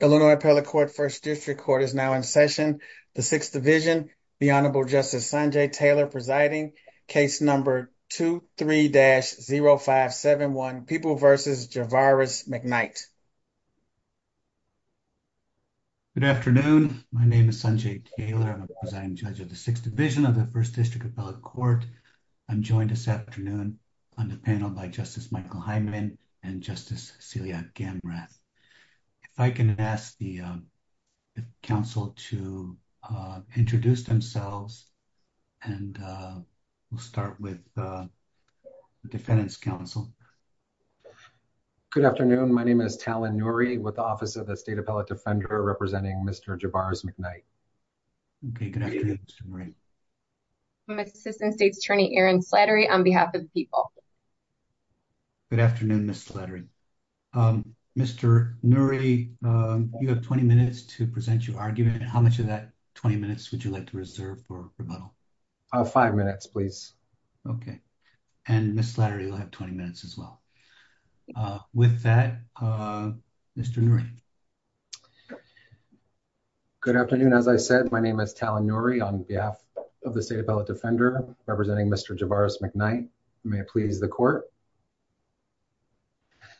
Illinois Appellate Court First District Court is now in session. The Sixth Division, the Honorable Justice Sanjay Taylor presiding, case number 23-0571, People v. Javaris McKnight. Good afternoon. My name is Sanjay Taylor. I'm a presiding judge of the Sixth Division of the First District Appellate Court. I'm joined this afternoon on the panel by Justice Michael Hyman and Justice Celia Gamrath. If I can ask the counsel to introduce themselves and we'll start with the defendant's counsel. Good afternoon. My name is Talon Nuri with the Office of the State Appellate Defender representing Mr. Javaris McKnight. Okay, good afternoon, Mr. Nuri. I'm Assistant State's Attorney Erin Slattery on behalf of the people. Good afternoon, Ms. Slattery. Mr. Nuri, you have 20 minutes to present your argument. How much of that 20 minutes would you like to reserve for rebuttal? Five minutes, please. Okay. And Ms. Slattery will have 20 minutes as well. With that, Mr. Nuri. Good afternoon. As I said, my name is Talon Nuri on behalf of the State Appellate Defender representing Mr. Javaris McKnight. May it please the court.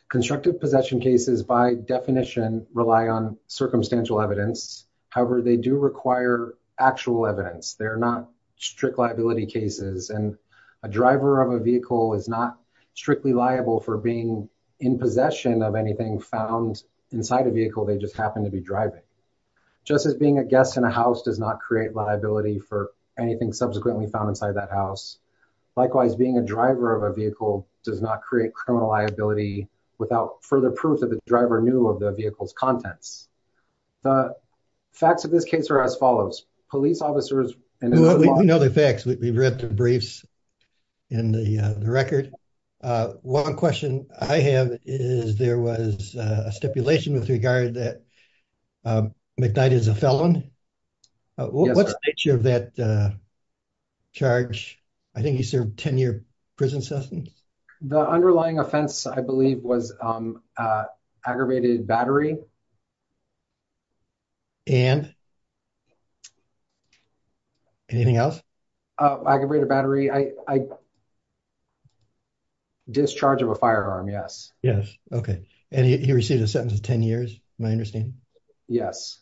Constructive possession cases by definition rely on circumstantial evidence. However, they do require actual evidence. They're not strict liability cases. And a driver of a vehicle is not strictly liable for being in possession of anything found inside a vehicle they just happen to be driving. Just as being a guest in a house does not create liability for anything subsequently found inside that house. Likewise, being a driver of a vehicle does not create criminal liability without further proof that the driver knew of the vehicle's contents. The facts of this case are as follows. Police officers... We know the facts. We've read the briefs and the record. One question I have is there was a stipulation with regard that McKnight is a felon. What's the nature of that charge? I think he served 10 year prison sentence. The underlying offense, I believe, was aggravated battery. And anything else? Aggravated battery. Discharge of a firearm. Yes. Yes. Okay. And he received a sentence of 10 years. Am I understanding? Yes.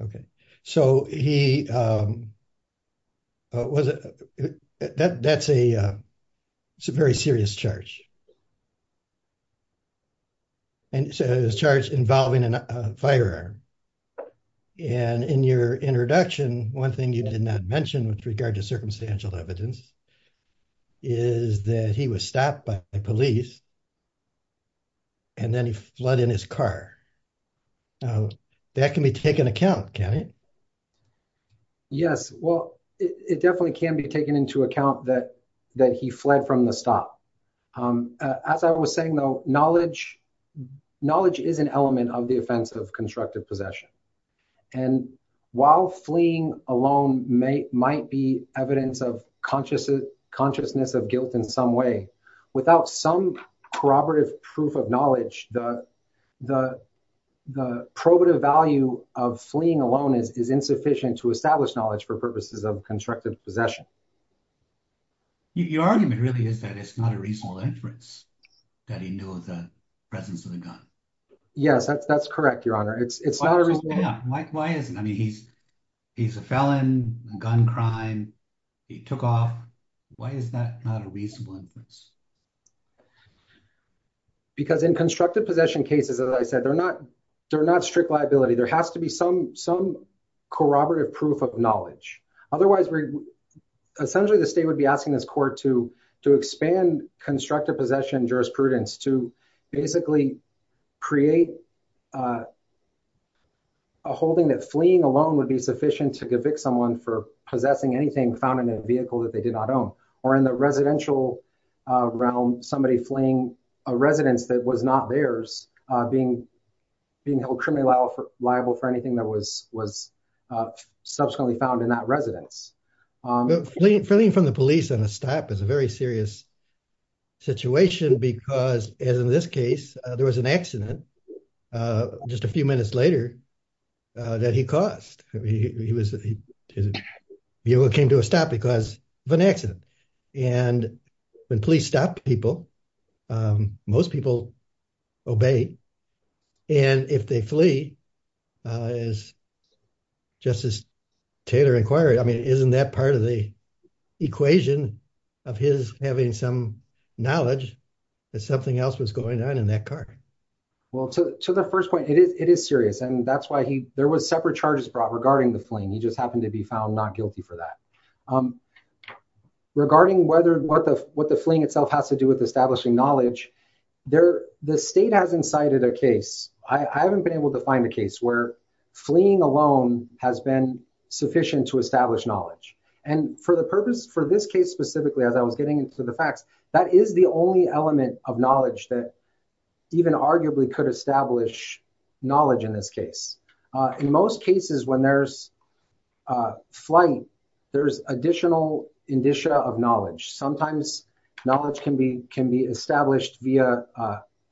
Okay. So he... That's a very serious charge. And it's a charge involving a firearm. And in your introduction, one thing you did not mention with regard to circumstantial evidence is that he was stopped by police. And then he fled in his car. That can be taken account, can't it? Yes. Well, it definitely can be taken into account that he fled from the stop. As I was saying, though, knowledge is an element of the offense of constructive possession. And while fleeing alone might be evidence of consciousness of guilt in some way, without some corroborative proof of knowledge, the probative value of fleeing alone is insufficient to establish knowledge for purposes of constructive possession. Your argument really is that it's not a reasonable inference that he knew of the presence of the gun. Yes, that's correct, Your Honor. It's not a reasonable... Why is it? I mean, he's a felon, a gun crime. He took off. Why is that not a reasonable inference? Because in constructive possession cases, as I said, they're not strict liability. There has to be some corroborative proof of knowledge. Otherwise, essentially, the state would be asking this court to expand constructive possession jurisprudence to basically create a holding that fleeing alone would be sufficient to convict someone for possessing anything found in a vehicle that they did not own. Or in the residential realm, somebody fleeing a residence that was not theirs, being held criminally liable for anything that was subsequently found in that residence. Fleeing from the police on a stop is a very serious situation because, as in this case, there was an accident just a few minutes later that he caused. He came to a stop because of an accident. And when police stop people, most people obey. And if they flee, as Justice Taylor inquired, I mean, isn't that part of the equation of his having some knowledge that something else was going on in that car? Well, to the first point, it is serious. And that's why there were separate charges brought regarding the fleeing. He just happened to be found not guilty for that. Regarding what the fleeing itself has to do with establishing knowledge, the state has incited a case. I haven't been able to find a case where fleeing alone has been sufficient to establish knowledge. And for the purpose, for this case specifically, as I was getting into the facts, that is the only element of knowledge that even arguably could establish knowledge in this case. In most cases, when there's flight, there's additional indicia of knowledge. Sometimes knowledge can be established via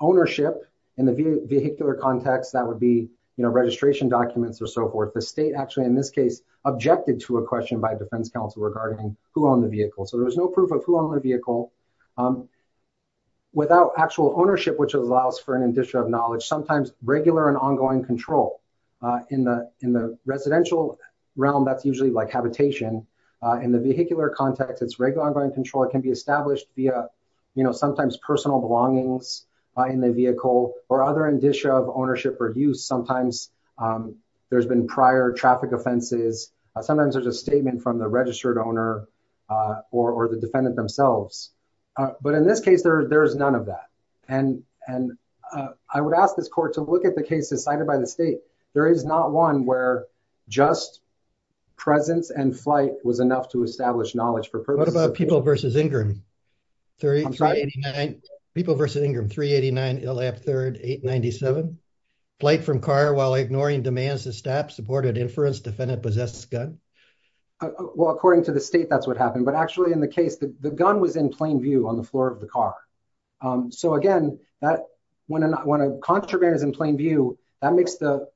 ownership. In the vehicular context, that would be registration documents or so forth. The state actually, in this case, objected to a question by a defense counsel regarding who owned the vehicle. So there was no proof of who owned the vehicle. Without actual ownership, which allows for an indicia of knowledge, sometimes regular and ongoing control in the residential realm, that's usually like habitation. In the vehicular context, it's regular and ongoing control. It can be established via sometimes personal belongings in the vehicle or other indicia of ownership or use. Sometimes there's been prior traffic offenses. Sometimes there's a statement from the registered owner or the defendant themselves. But in this case, there's none of that. And I would ask this court to look at the cases cited by the state. There is not one where just presence and flight was enough to establish knowledge. What about People v. Ingram? People v. Ingram, 389 ILL-APT 3rd, 897. Flight from car while ignoring demands to stop, supported inference, defendant possesses gun? Well, according to the state, that's what happened. But actually, in the case, the gun was in plain view on the floor of the car. So again, when a contraband is in plain view, that makes the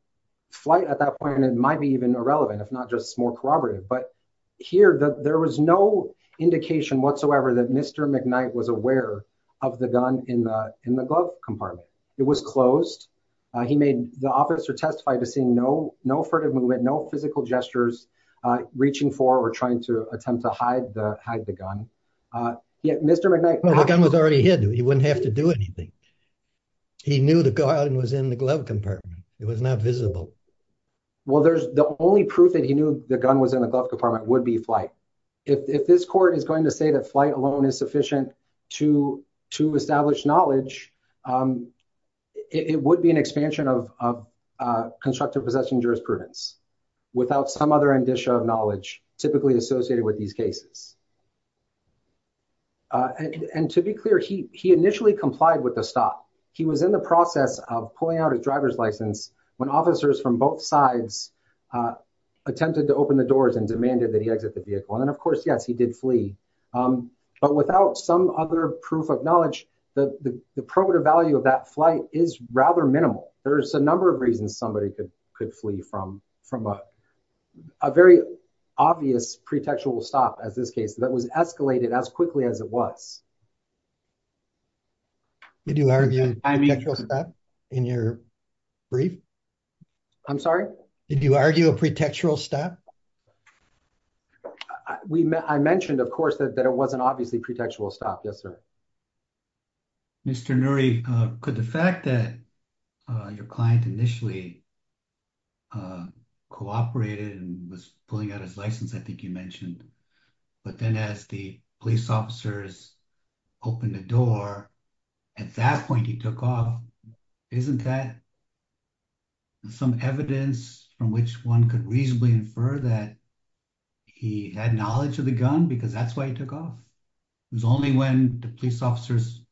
flight at that point, it might be even irrelevant, if not just more corroborative. But here, there was no indication whatsoever that Mr. McKnight was aware of the gun in the glove compartment. It was closed. The officer testified to seeing no furtive movement, no physical gestures, reaching for or trying to attempt to hide the gun. The gun was already hidden. He wouldn't have to do anything. He knew the gun was in the glove compartment. It was not visible. Well, the only proof that he knew the gun was in the glove compartment would be flight. If this court is going to say that flight alone is sufficient to establish knowledge, it would be an expansion of constructive possession jurisprudence without some other indicia of knowledge typically associated with these cases. And to be clear, he initially complied with the stop. He was in the process of pulling out his driver's license when officers from both sides attempted to open the doors and demanded that he exit the vehicle. And of course, yes, he did flee. But without some other proof of knowledge, the probative value of that flight is rather minimal. There's a number of reasons somebody could flee from a very obvious pretextual stop, as this case, that was escalated as quickly as it was. Did you argue a pretextual stop in your brief? I'm sorry? Did you argue a pretextual stop? I mentioned, of course, that it wasn't obviously a pretextual stop. Yes, sir. Mr. Nuri, could the fact that your client initially cooperated and was pulling out his license, I think you mentioned, but then as the police officers opened the door, at that point he took off, isn't that some evidence from which one could reasonably infer that he had knowledge of the gun because that's why he took off? It was only when the police officers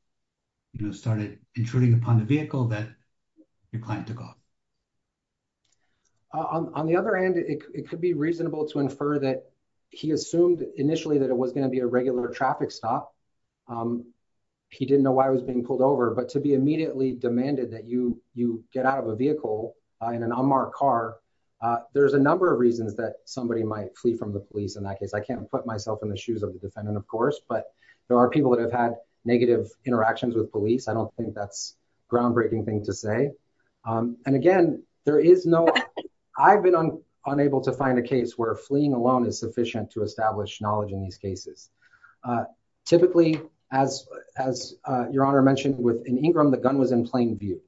started intruding upon the vehicle that your client took off. On the other hand, it could be reasonable to infer that he assumed initially that it was going to be a regular traffic stop. He didn't know why he was being pulled over, but to be immediately demanded that you get out of a vehicle in an unmarked car, there's a number of reasons that somebody might flee from the police. In that case, I can't put myself in the shoes of the defendant, of course, but there are people that have had negative interactions with police. I don't think that's a groundbreaking thing to say. And again, I've been unable to find a case where fleeing alone is sufficient to establish knowledge in these cases. Typically, as your honor mentioned, within Ingram, the gun was in plain view.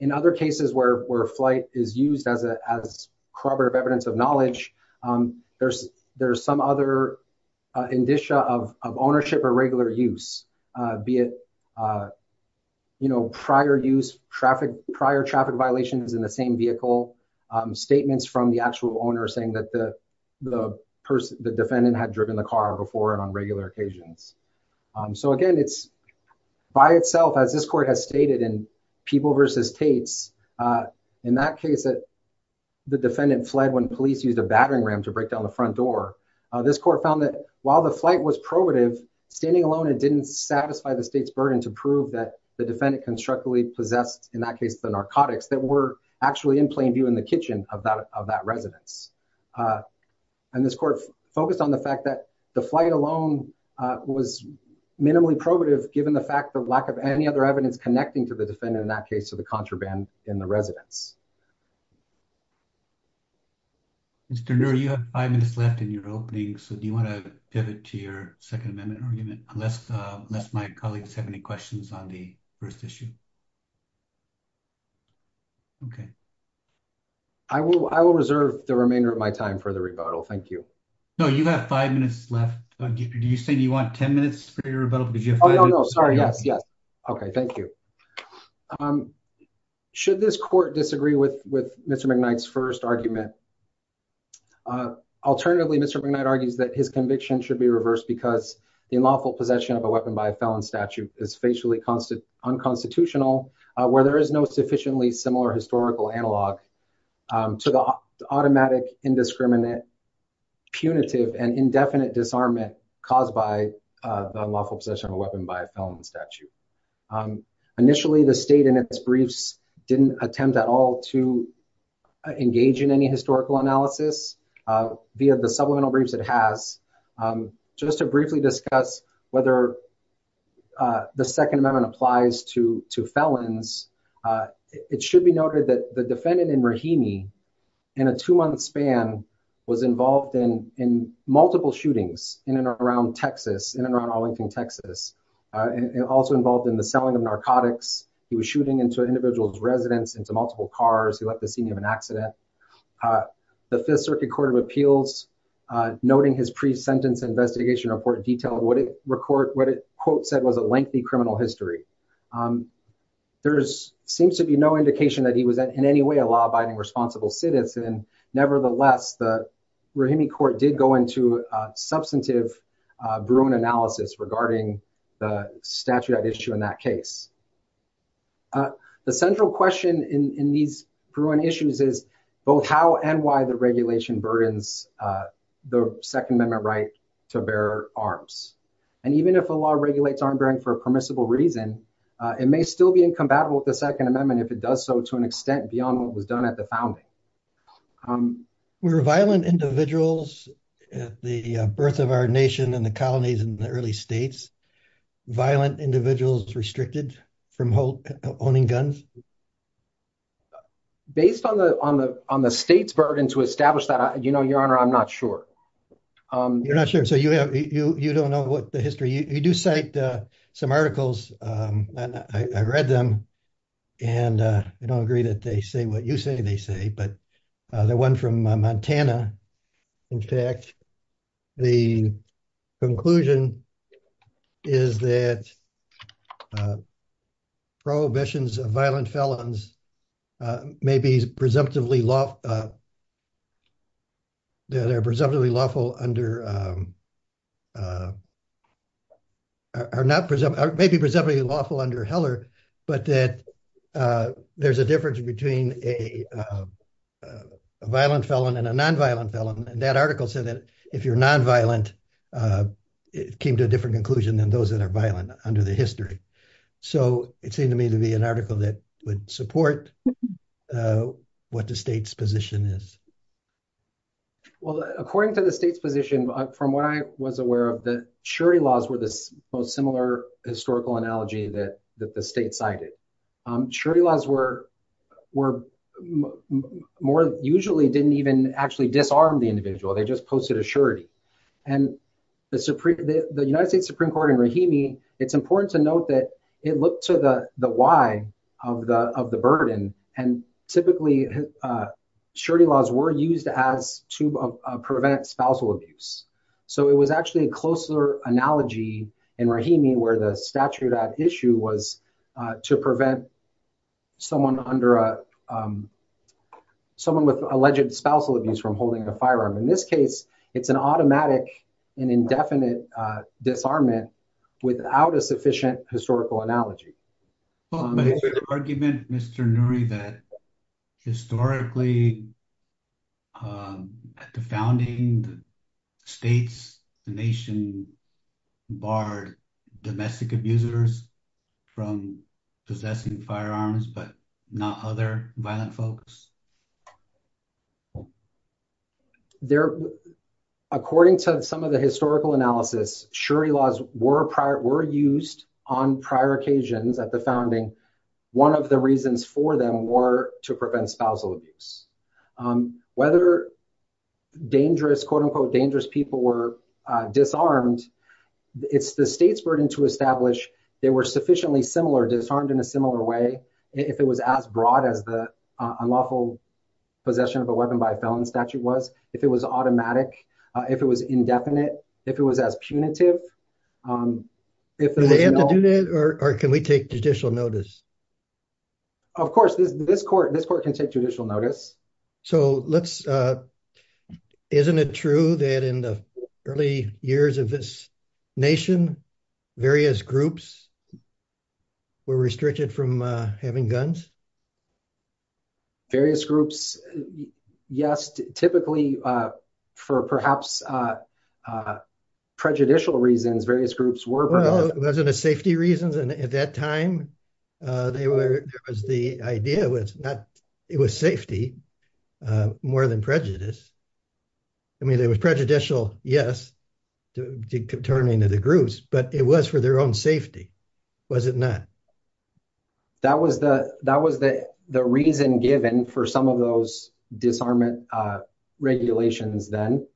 In other cases where flight is used as corroborative evidence of knowledge, there's some other indicia of ownership or regular use. Be it prior use, prior traffic violations in the same vehicle, statements from the actual owner saying that the defendant had driven the car before and on regular occasions. So again, it's by itself, as this court has stated in People v. Tates, in that case that the defendant fled when police used a battering ram to break down the front door. This court found that while the flight was probative, standing alone, it didn't satisfy the state's burden to prove that the defendant constructively possessed, in that case, the narcotics that were actually in plain view in the kitchen of that residence. And this court focused on the fact that the flight alone was minimally probative, given the fact of lack of any other evidence connecting to the defendant, in that case, to the contraband in the residence. Mr. Noor, you have five minutes left in your opening, so do you want to pivot to your Second Amendment argument, unless my colleagues have any questions on the first issue? Okay. I will reserve the remainder of my time for the rebuttal, thank you. No, you have five minutes left. Do you say you want ten minutes for your rebuttal? Oh, no, no, sorry, yes, yes. Okay, thank you. Should this court disagree with Mr. McKnight's first argument? Alternatively, Mr. McKnight argues that his conviction should be reversed because the unlawful possession of a weapon by a felon statute is facially unconstitutional, where there is no sufficiently similar historical analog to the automatic, indiscriminate, punitive, and indefinite disarmament caused by the unlawful possession of a weapon by a felon statute. Initially, the state in its briefs didn't attempt at all to engage in any historical analysis via the supplemental briefs it has. Just to briefly discuss whether the Second Amendment applies to felons, it should be noted that the defendant in Rahimi, in a two-month span, was involved in multiple shootings in and around Texas, in and around Arlington, Texas. Also involved in the selling of narcotics. He was shooting into an individual's residence, into multiple cars. He left the scene of an accident. The Fifth Circuit Court of Appeals, noting his pre-sentence investigation report, detailed what it quote said was a lengthy criminal history. There seems to be no indication that he was in any way a law-abiding, responsible citizen. Nevertheless, the Rahimi court did go into substantive Bruin analysis regarding the statute at issue in that case. The central question in these Bruin issues is both how and why the regulation burdens the Second Amendment right to bear arms. And even if a law regulates arm-bearing for a permissible reason, it may still be incompatible with the Second Amendment if it does so to an extent beyond what was done at the founding. Were violent individuals at the birth of our nation and the colonies in the early states, violent individuals restricted from owning guns? Based on the state's burden to establish that, Your Honor, I'm not sure. You're not sure, so you don't know what the history, you do cite some articles and I read them and I don't agree that they say what you say they say, but the one from Montana, in fact, the conclusion is that prohibitions of violent felons may be presumptively law, that are presumptively lawful under, are not presumptive, may be presumptively lawful under Heller, but that there's a difference between a violent felon and a nonviolent felon and that article said that if you're nonviolent, it came to a different conclusion than those that are violent under the history. So it seemed to me to be an article that would support what the state's position is. Well, according to the state's position, from what I was aware of, the surety laws were the most similar historical analogy that the state cited. Surety laws were usually didn't even actually disarm the individual, they just posted a surety. And the United States Supreme Court in Rahimi, it's important to note that it looked to the why of the burden and typically surety laws were used to prevent spousal abuse. So it was actually a closer analogy in Rahimi where the statute at issue was to prevent someone with alleged spousal abuse from holding a firearm. In this case, it's an automatic and indefinite disarmament without a sufficient historical analogy. But is there an argument, Mr. Nuri, that historically at the founding states, the nation barred domestic abusers from possessing firearms, but not other violent folks? According to some of the historical analysis, surety laws were used on prior occasions at the founding. One of the reasons for them were to prevent spousal abuse. Whether dangerous, quote unquote, dangerous people were disarmed, it's the state's burden to establish they were sufficiently similar, disarmed in a similar way, if it was as broad as the unlawful possession of a weapon by a felon statute was, if it was automatic, if it was indefinite, if it was as punitive. Do they have to do that or can we take judicial notice? Of course, this court can take judicial notice. So let's, isn't it true that in the early years of this nation, various groups were restricted from having guns? Various groups, yes. Typically, for perhaps prejudicial reasons, various groups were. It wasn't a safety reason. At that time, the idea was that it was safety more than prejudice. I mean, there was prejudicial, yes, to turn into the groups, but it was for their own safety, was it not? That was the reason given for some of those disarmament regulations then.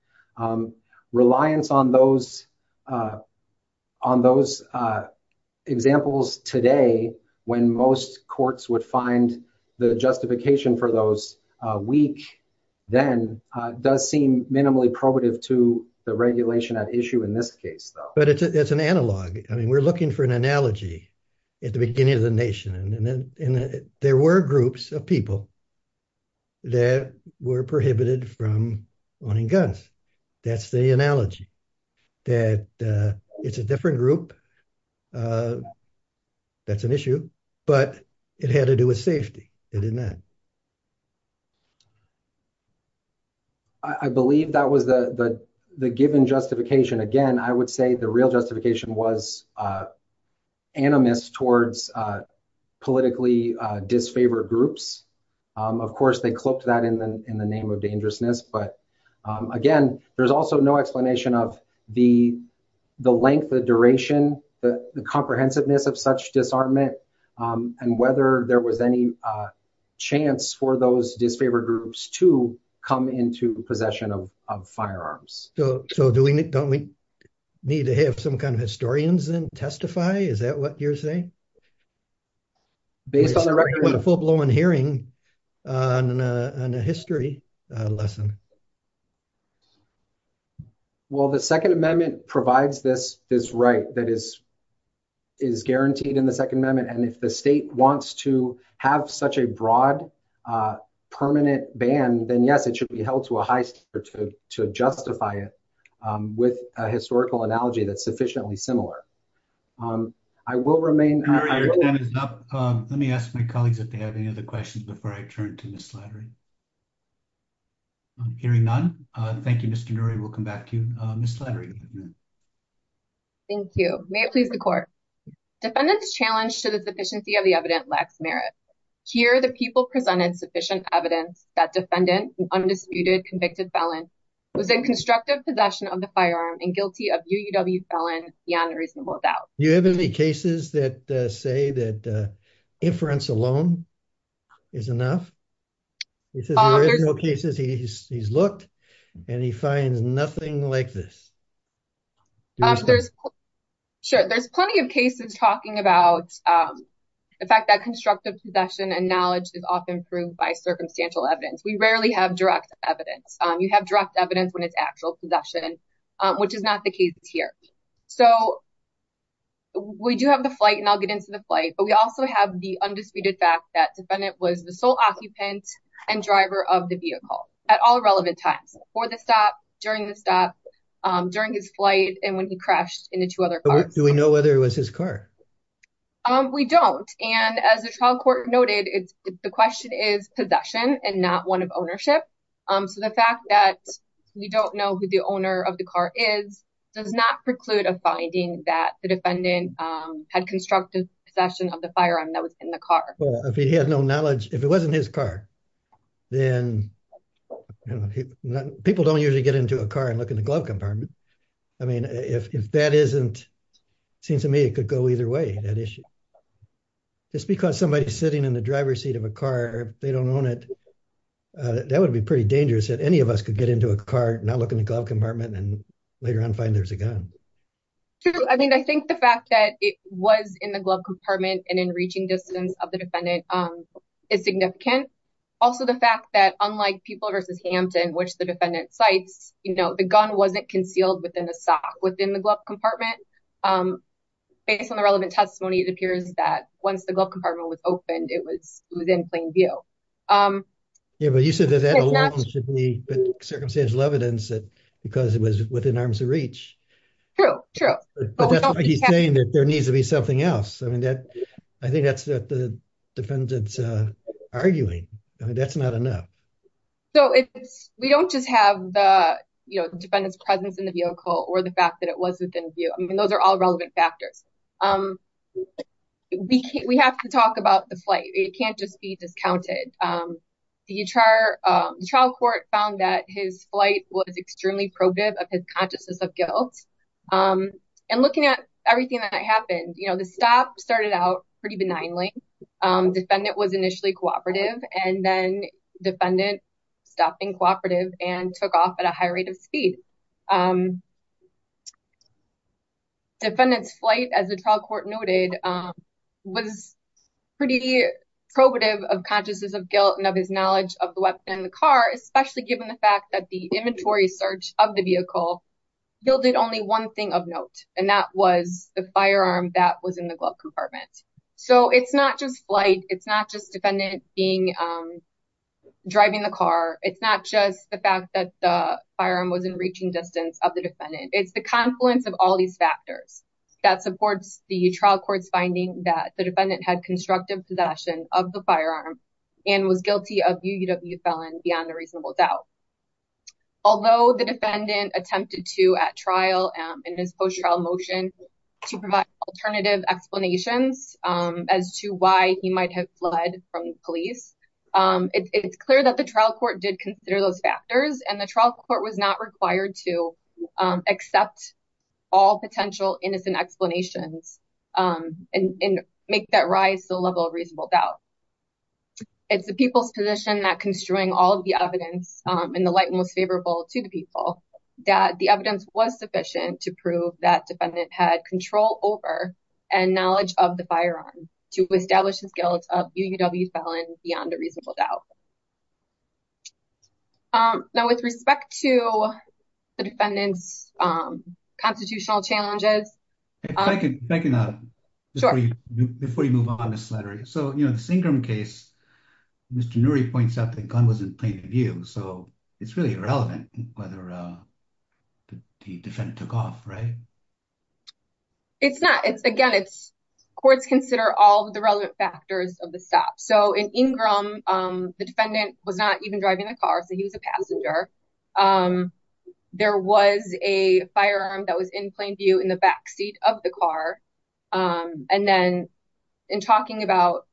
Reliance on those examples today, when most courts would find the justification for those weak then, does seem minimally probative to the regulation at issue in this case, though. But it's an analog. I mean, we're looking for an analogy at the beginning of the nation, and there were groups of people that were prohibited from owning guns. That's the analogy, that it's a different group, that's an issue, but it had to do with safety, did it not? I believe that was the given justification. Again, I would say the real justification was animus towards politically disfavored groups. Of course, they clipped that in the name of dangerousness, but again, there's also no explanation of the length, the duration, the comprehensiveness of such disarmament, and whether there was any chance for those disfavored groups to come into possession of firearms. So don't we need to have some kind of historians then testify? Is that what you're saying? Based on the record. Based on a full-blown hearing on a history lesson. Well, the Second Amendment provides this right that is guaranteed in the Second Amendment. And if the state wants to have such a broad permanent ban, then yes, it should be held to a high standard to justify it with a historical analogy that's sufficiently similar. I will remain... Let me ask my colleagues if they have any other questions before I turn to Ms. Slattery. I'm hearing none. Thank you, Mr. Noory. We'll come back to Ms. Slattery in a minute. Thank you. May it please the Court. Defendant's challenge to the sufficiency of the evidence lacks merit. Here, the people presented sufficient evidence that defendant, an undisputed convicted felon, was in constructive possession of the firearm and guilty of UUW felon beyond reasonable doubt. Do you have any cases that say that inference alone is enough? This is the original cases he's looked and he finds nothing like this. There's plenty of cases talking about the fact that constructive possession and knowledge is often proved by circumstantial evidence. We rarely have direct evidence. You have direct evidence when it's actual possession, which is not the case here. We do have the flight, and I'll get into the flight, but we also have the undisputed fact that defendant was the sole occupant and driver of the vehicle at all relevant times. Before the stop, during the stop, during his flight, and when he crashed into two other cars. Do we know whether it was his car? We don't, and as the trial court noted, the question is possession and not one of ownership. So the fact that we don't know who the owner of the car is does not preclude a finding that the defendant had constructive possession of the firearm that was in the car. Well, if he had no knowledge, if it wasn't his car, then people don't usually get into a car and look in the glove compartment. I mean, if that isn't, it seems to me it could go either way, that issue. Just because somebody's sitting in the driver's seat of a car, they don't own it, that would be pretty dangerous that any of us could get into a car, not look in the glove compartment, and later on find there's a gun. True. I mean, I think the fact that it was in the glove compartment and in reaching distance of the defendant is significant. Also, the fact that unlike Pupil v. Hampton, which the defendant cites, you know, the gun wasn't concealed within the glove compartment. Based on the relevant testimony, it appears that once the glove compartment was opened, it was within plain view. Yeah, but you said that that alone should be circumstantial evidence that because it was within arm's reach. True, true. But that's why he's saying that there needs to be something else. I mean, I think that's what the defendant's arguing. I mean, that's not enough. So, we don't just have the defendant's presence in the vehicle or the fact that it was within view. I mean, those are all relevant factors. We have to talk about the flight. It can't just be discounted. The trial court found that his flight was extremely probative of his consciousness of guilt. And looking at everything that happened, you know, the stop started out pretty benignly. Defendant was initially cooperative and then defendant stopped being cooperative and took off at a high rate of speed. Defendant's flight, as the trial court noted, was pretty probative of consciousness of guilt and of his knowledge of the weapon in the car, especially given the fact that the inventory search of the vehicle yielded only one thing of note. And that was the firearm that was in the glove compartment. So, it's not just flight. It's not just defendant driving the car. It's not just the fact that the firearm wasn't reaching distance of the defendant. It's the confluence of all these factors that supports the trial court's finding that the defendant had constructive possession of the firearm and was guilty of UUW felon beyond a reasonable doubt. Although the defendant attempted to, at trial, in his post-trial motion, to provide alternative explanations as to why he might have fled from police, it's clear that the trial court did consider those factors and the trial court was not required to accept all potential innocent explanations and make that rise to the level of reasonable doubt. It's the people's position that construing all of the evidence in the light most favorable to the people, that the evidence was sufficient to prove that defendant had control over and knowledge of the firearm to establish his guilt of UUW felon beyond a reasonable doubt. Now, with respect to the defendant's constitutional challenges... If I can add, before you move on, Ms. Slattery. So, you know, the Ingram case, Mr. Noory points out that the gun was in plain view. So, it's really irrelevant whether the defendant took off, right? It's not. Again, courts consider all the relevant factors of the stop. So, in Ingram, the defendant was not even driving the car, so he was a passenger. There was a firearm that was in plain view in the backseat of the car. And then in talking about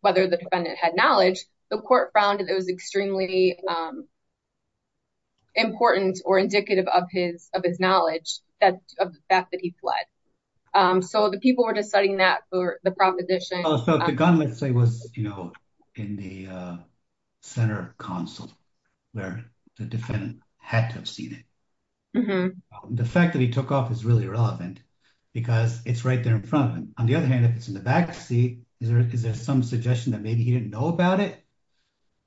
whether the defendant had knowledge, the court found that it was extremely important or indicative of his knowledge of the fact that he fled. So, the people were deciding that for the proposition. So, the gun, let's say, was in the center console where the defendant had to have seen it. The fact that he took off is really irrelevant because it's right there in front of him. On the other hand, if it's in the backseat, is there some suggestion that maybe he didn't know about it?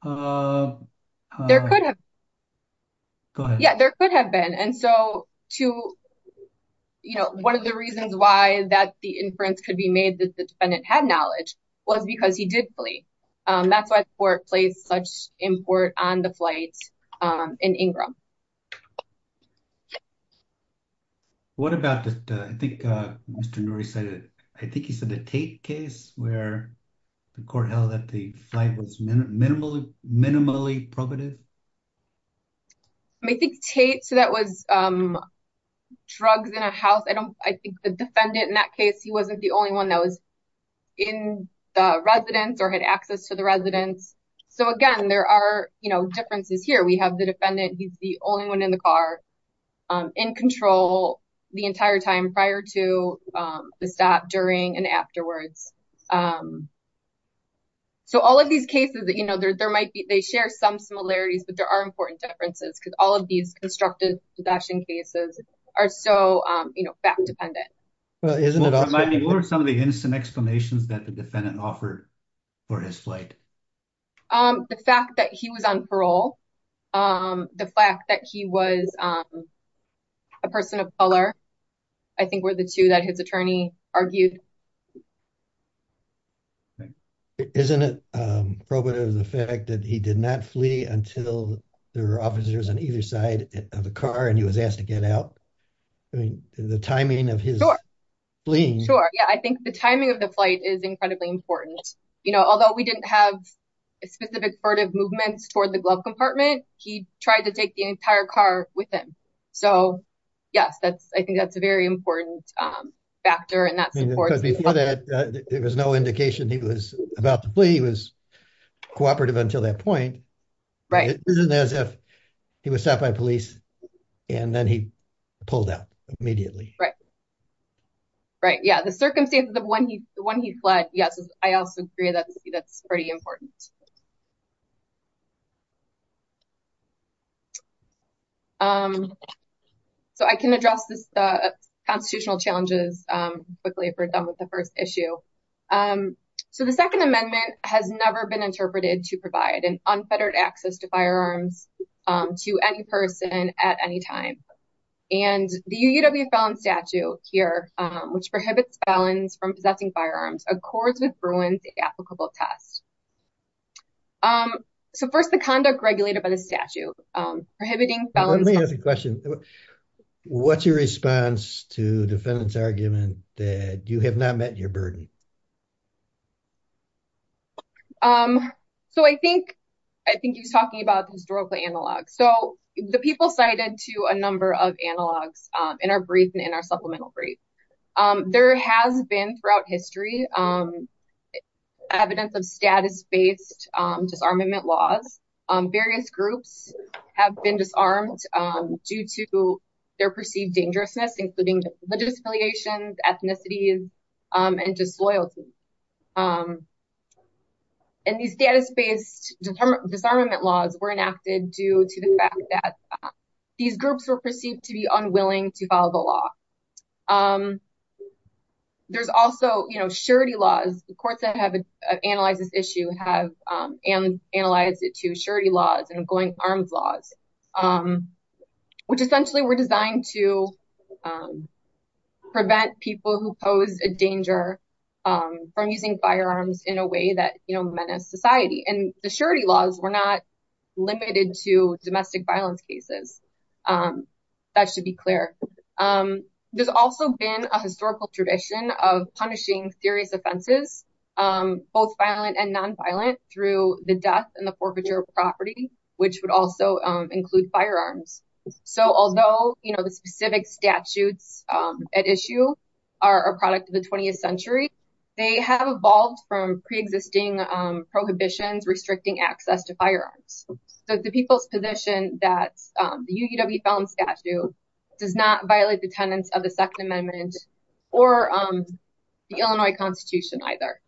There could have been. Go ahead. What about that? I think Mr. Noory said it. I think he said the Tate case where the court held that the flight was minimally probative. I think Tate, so that was drugs in a house. I think the defendant in that case, he wasn't the only one that was in the residence or had access to the residence. So, again, there are differences here. We have the defendant, he's the only one in the car, in control the entire time prior to the stop, during, and afterwards. So, all of these cases, there might be, they share some similarities, but there are important differences because all of these constructive possession cases are so fact-dependent. What are some of the instant explanations that the defendant offered for his flight? The fact that he was on parole, the fact that he was a person of color, I think were the two that his attorney argued. Isn't it probative the fact that he did not flee until there were officers on either side of the car and he was asked to get out? I mean, the timing of his fleeing. Sure. Yeah, I think the timing of the flight is incredibly important. You know, although we didn't have a specific part of movements toward the glove compartment, he tried to take the entire car with him. So, yes, I think that's a very important factor. Because before that, there was no indication he was about to flee, he was cooperative until that point. It wasn't as if he was stopped by police and then he pulled out immediately. Right. Yeah, the circumstances of when he fled, yes, I also agree that's pretty important. So I can address the constitutional challenges quickly if we're done with the first issue. So the Second Amendment has never been interpreted to provide an unfettered access to firearms to any person at any time. And the UUW felon statute here, which prohibits felons from possessing firearms, accords with Bruins the applicable test. So first, the conduct regulated by the statute prohibiting felons. Let me ask a question. What's your response to defendant's argument that you have not met your burden? So I think he's talking about the historical analog. So the people cited to a number of analogs in our brief and in our supplemental brief. There has been throughout history evidence of status based disarmament laws. Various groups have been disarmed due to their perceived dangerousness, including religious affiliations, ethnicities and disloyalty. And these status based disarmament laws were enacted due to the fact that these groups were perceived to be unwilling to follow the law. There's also surety laws. The courts that have analyzed this issue have analyzed it to surety laws and going arms laws, which essentially were designed to prevent people who pose a danger from using firearms in a way that menace society. And the surety laws were not limited to domestic violence cases. That should be clear. There's also been a historical tradition of punishing serious offenses, both violent and nonviolent, through the death and the forfeiture of property, which would also include firearms. So although the specific statutes at issue are a product of the 20th century, they have evolved from pre-existing prohibitions restricting access to firearms. So the people's position that the UUW felon statute does not violate the tenets of the Second Amendment or the Illinois Constitution either.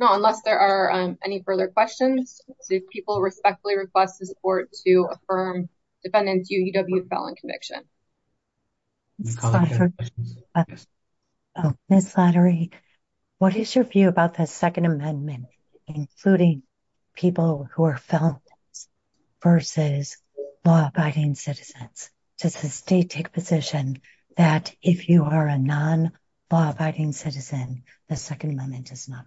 No, unless there are any further questions, people respectfully request the support to affirm defendant's UUW felon conviction. Ms. Lottery, what is your view about the Second Amendment, including people who are felons versus law-abiding citizens? Does the state take position that if you are a non-law-abiding citizen, the Second Amendment does not apply?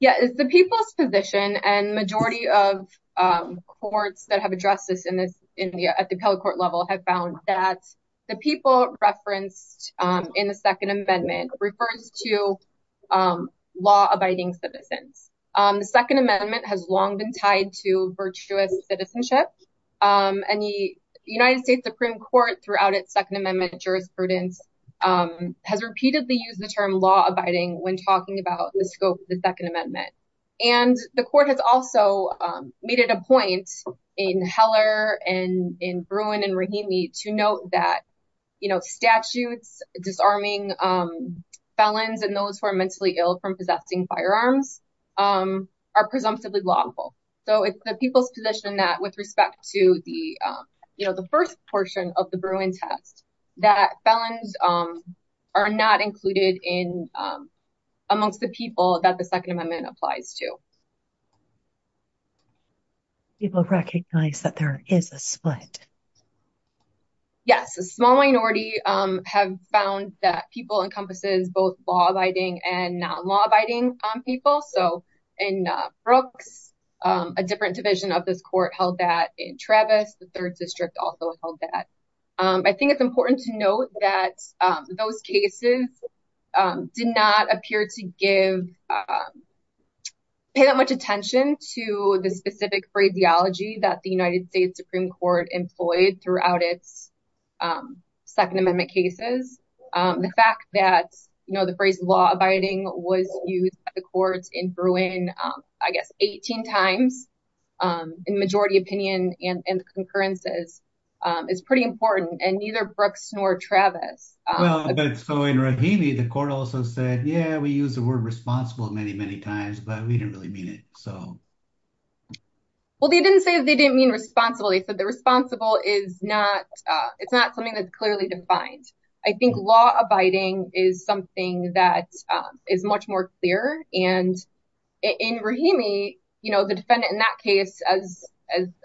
Yeah, the people's position and majority of courts that have addressed this at the appellate court level have found that the people referenced in the Second Amendment refers to law-abiding citizens. The Second Amendment has long been tied to virtuous citizenship. And the United States Supreme Court, throughout its Second Amendment jurisprudence, has repeatedly used the term law-abiding when talking about the scope of the Second Amendment. And the court has also made it a point in Heller and in Bruin and Rahimi to note that, you know, statutes disarming felons and those who are mentally ill from possessing firearms are presumptively lawful. So it's the people's position that with respect to the, you know, the first portion of the Bruin test, that felons are not included in amongst the people that the Second Amendment applies to. People recognize that there is a split. Yes, a small minority have found that people encompasses both law-abiding and non-law-abiding people. So in Brooks, a different division of this court held that. In Travis, the third district also held that. I think it's important to note that those cases did not appear to give, pay that much attention to the specific phraseology that the United States Supreme Court employed throughout its Second Amendment cases. The fact that, you know, the phrase law-abiding was used by the courts in Bruin, I guess, 18 times, in majority opinion and concurrences, is pretty important and neither Brooks nor Travis. Well, but so in Rahimi, the court also said, yeah, we use the word responsible many, many times, but we didn't really mean it. So. Well, they didn't say they didn't mean responsible. They said the responsible is not, it's not something that's clearly defined. I think law-abiding is something that is much more clear. And in Rahimi, you know, the defendant in that case, as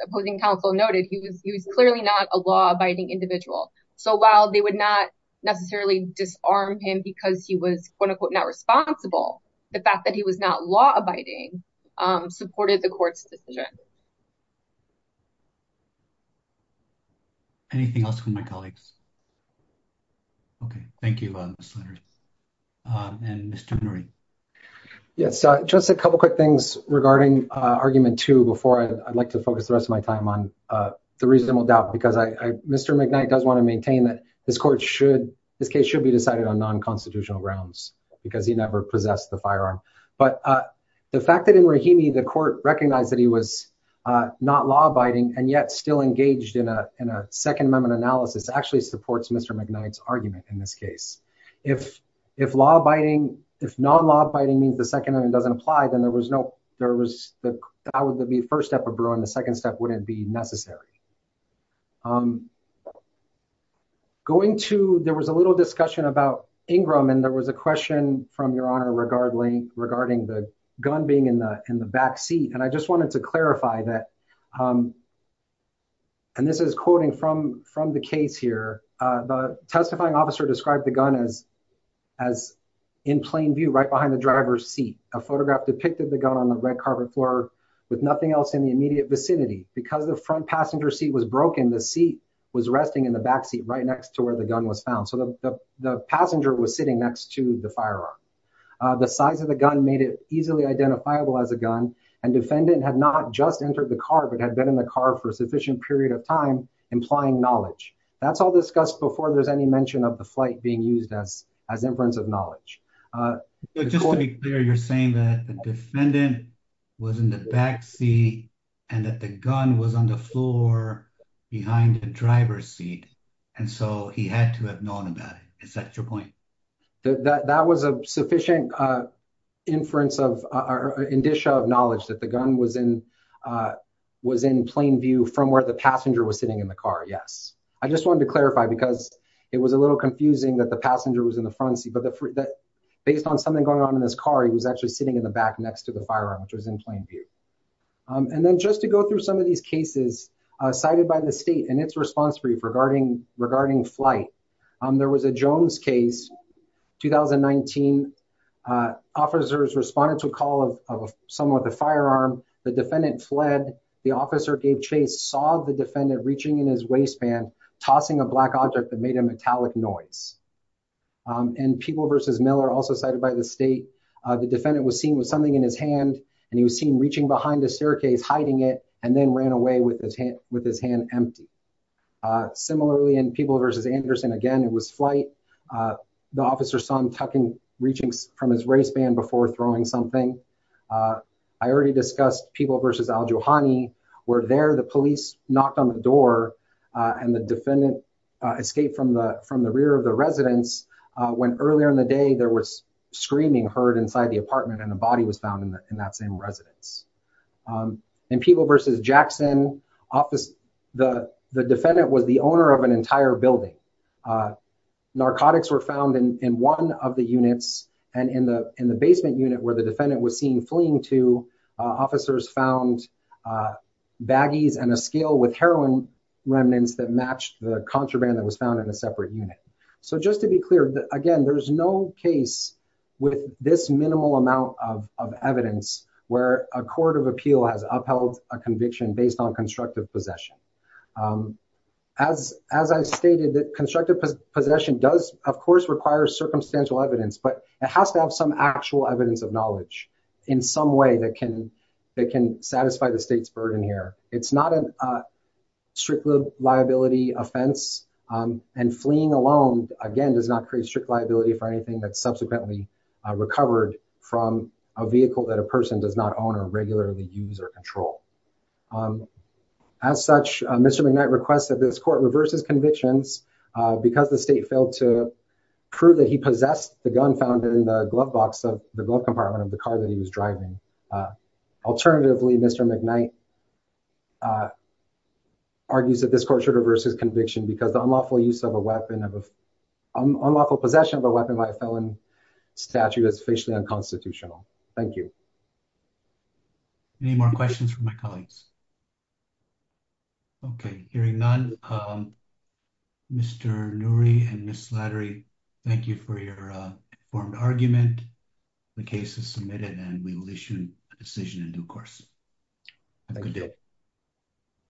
opposing counsel noted, he was clearly not a law-abiding individual. So while they would not necessarily disarm him because he was, quote unquote, not responsible. The fact that he was not law-abiding supported the court's decision. Anything else from my colleagues? OK, thank you. And Mr. Murray. Yes, just a couple quick things regarding argument two before I'd like to focus the rest of my time on the reasonable doubt, because I, Mr. McKnight does want to maintain that this court should, this case should be decided on non-constitutional grounds because he never possessed the firearm. But the fact that in Rahimi, the court recognized that he was not law-abiding and yet still engaged in a Second Amendment analysis actually supports Mr. McKnight's argument in this case. If law-abiding, if non-law-abiding means the Second Amendment doesn't apply, then there was no, there was the, that would be the first step of brewing. The second step wouldn't be necessary. Going to, there was a little discussion about Ingram, and there was a question from Your Honor regarding the gun being in the backseat. And I just wanted to clarify that. And this is quoting from the case here, the testifying officer described the gun as in plain view, right behind the driver's seat. A photograph depicted the gun on the red carpet floor with nothing else in the immediate vicinity. Because the front passenger seat was broken, the seat was resting in the backseat right next to where the gun was found. So the passenger was sitting next to the firearm. The size of the gun made it easily identifiable as a gun, and defendant had not just entered the car, but had been in the car for a sufficient period of time, implying knowledge. That's all discussed before there's any mention of the flight being used as inference of knowledge. But just to be clear, you're saying that the defendant was in the backseat and that the gun was on the floor behind the driver's seat, and so he had to have known about it. Is that your point? That was a sufficient inference of, or indicia of knowledge that the gun was in, was in plain view from where the passenger was sitting in the car, yes. I just wanted to clarify because it was a little confusing that the passenger was in the front seat, but based on something going on in his car, he was actually sitting in the back next to the firearm, which was in plain view. And then just to go through some of these cases cited by the state and its response brief regarding flight. There was a Jones case, 2019. Officers responded to a call of someone with a firearm. The defendant fled. The officer, Dave Chase, saw the defendant reaching in his waistband, tossing a black object that made a metallic noise. And People v. Miller, also cited by the state, the defendant was seen with something in his hand, and he was seen reaching behind the staircase, hiding it, and then ran away with his hand empty. Similarly, in People v. Anderson, again, it was flight. The officer saw him tucking, reaching from his waistband before throwing something. I already discussed People v. Al-Jouhani, where there, the police knocked on the door, and the defendant escaped from the rear of the residence, when earlier in the day, there was screaming heard inside the apartment, and a body was found in that same residence. In People v. Jackson, the defendant was the owner of an entire building. Narcotics were found in one of the units, and in the basement unit where the defendant was seen fleeing to, officers found baggies and a scale with heroin remnants that matched the contraband that was found in a separate unit. So just to be clear, again, there's no case with this minimal amount of evidence where a court of appeal has upheld a conviction based on constructive possession. As I stated, constructive possession does, of course, require circumstantial evidence, but it has to have some actual evidence of knowledge in some way that can satisfy the state's burden here. It's not a strict liability offense, and fleeing alone, again, does not create strict liability for anything that's subsequently recovered from a vehicle that a person does not own or regularly use or control. As such, Mr. McKnight requests that this court reverse his convictions because the state failed to prove that he possessed the gun found in the glove compartment of the car that he was driving. Alternatively, Mr. McKnight argues that this court should reverse his conviction because the unlawful possession of a weapon by a felon statute is facially unconstitutional. Thank you. Any more questions from my colleagues? Okay, hearing none, Mr. Noorie and Ms. Slattery, thank you for your informed argument. The case is submitted and we will issue a decision in due course. Have a good day.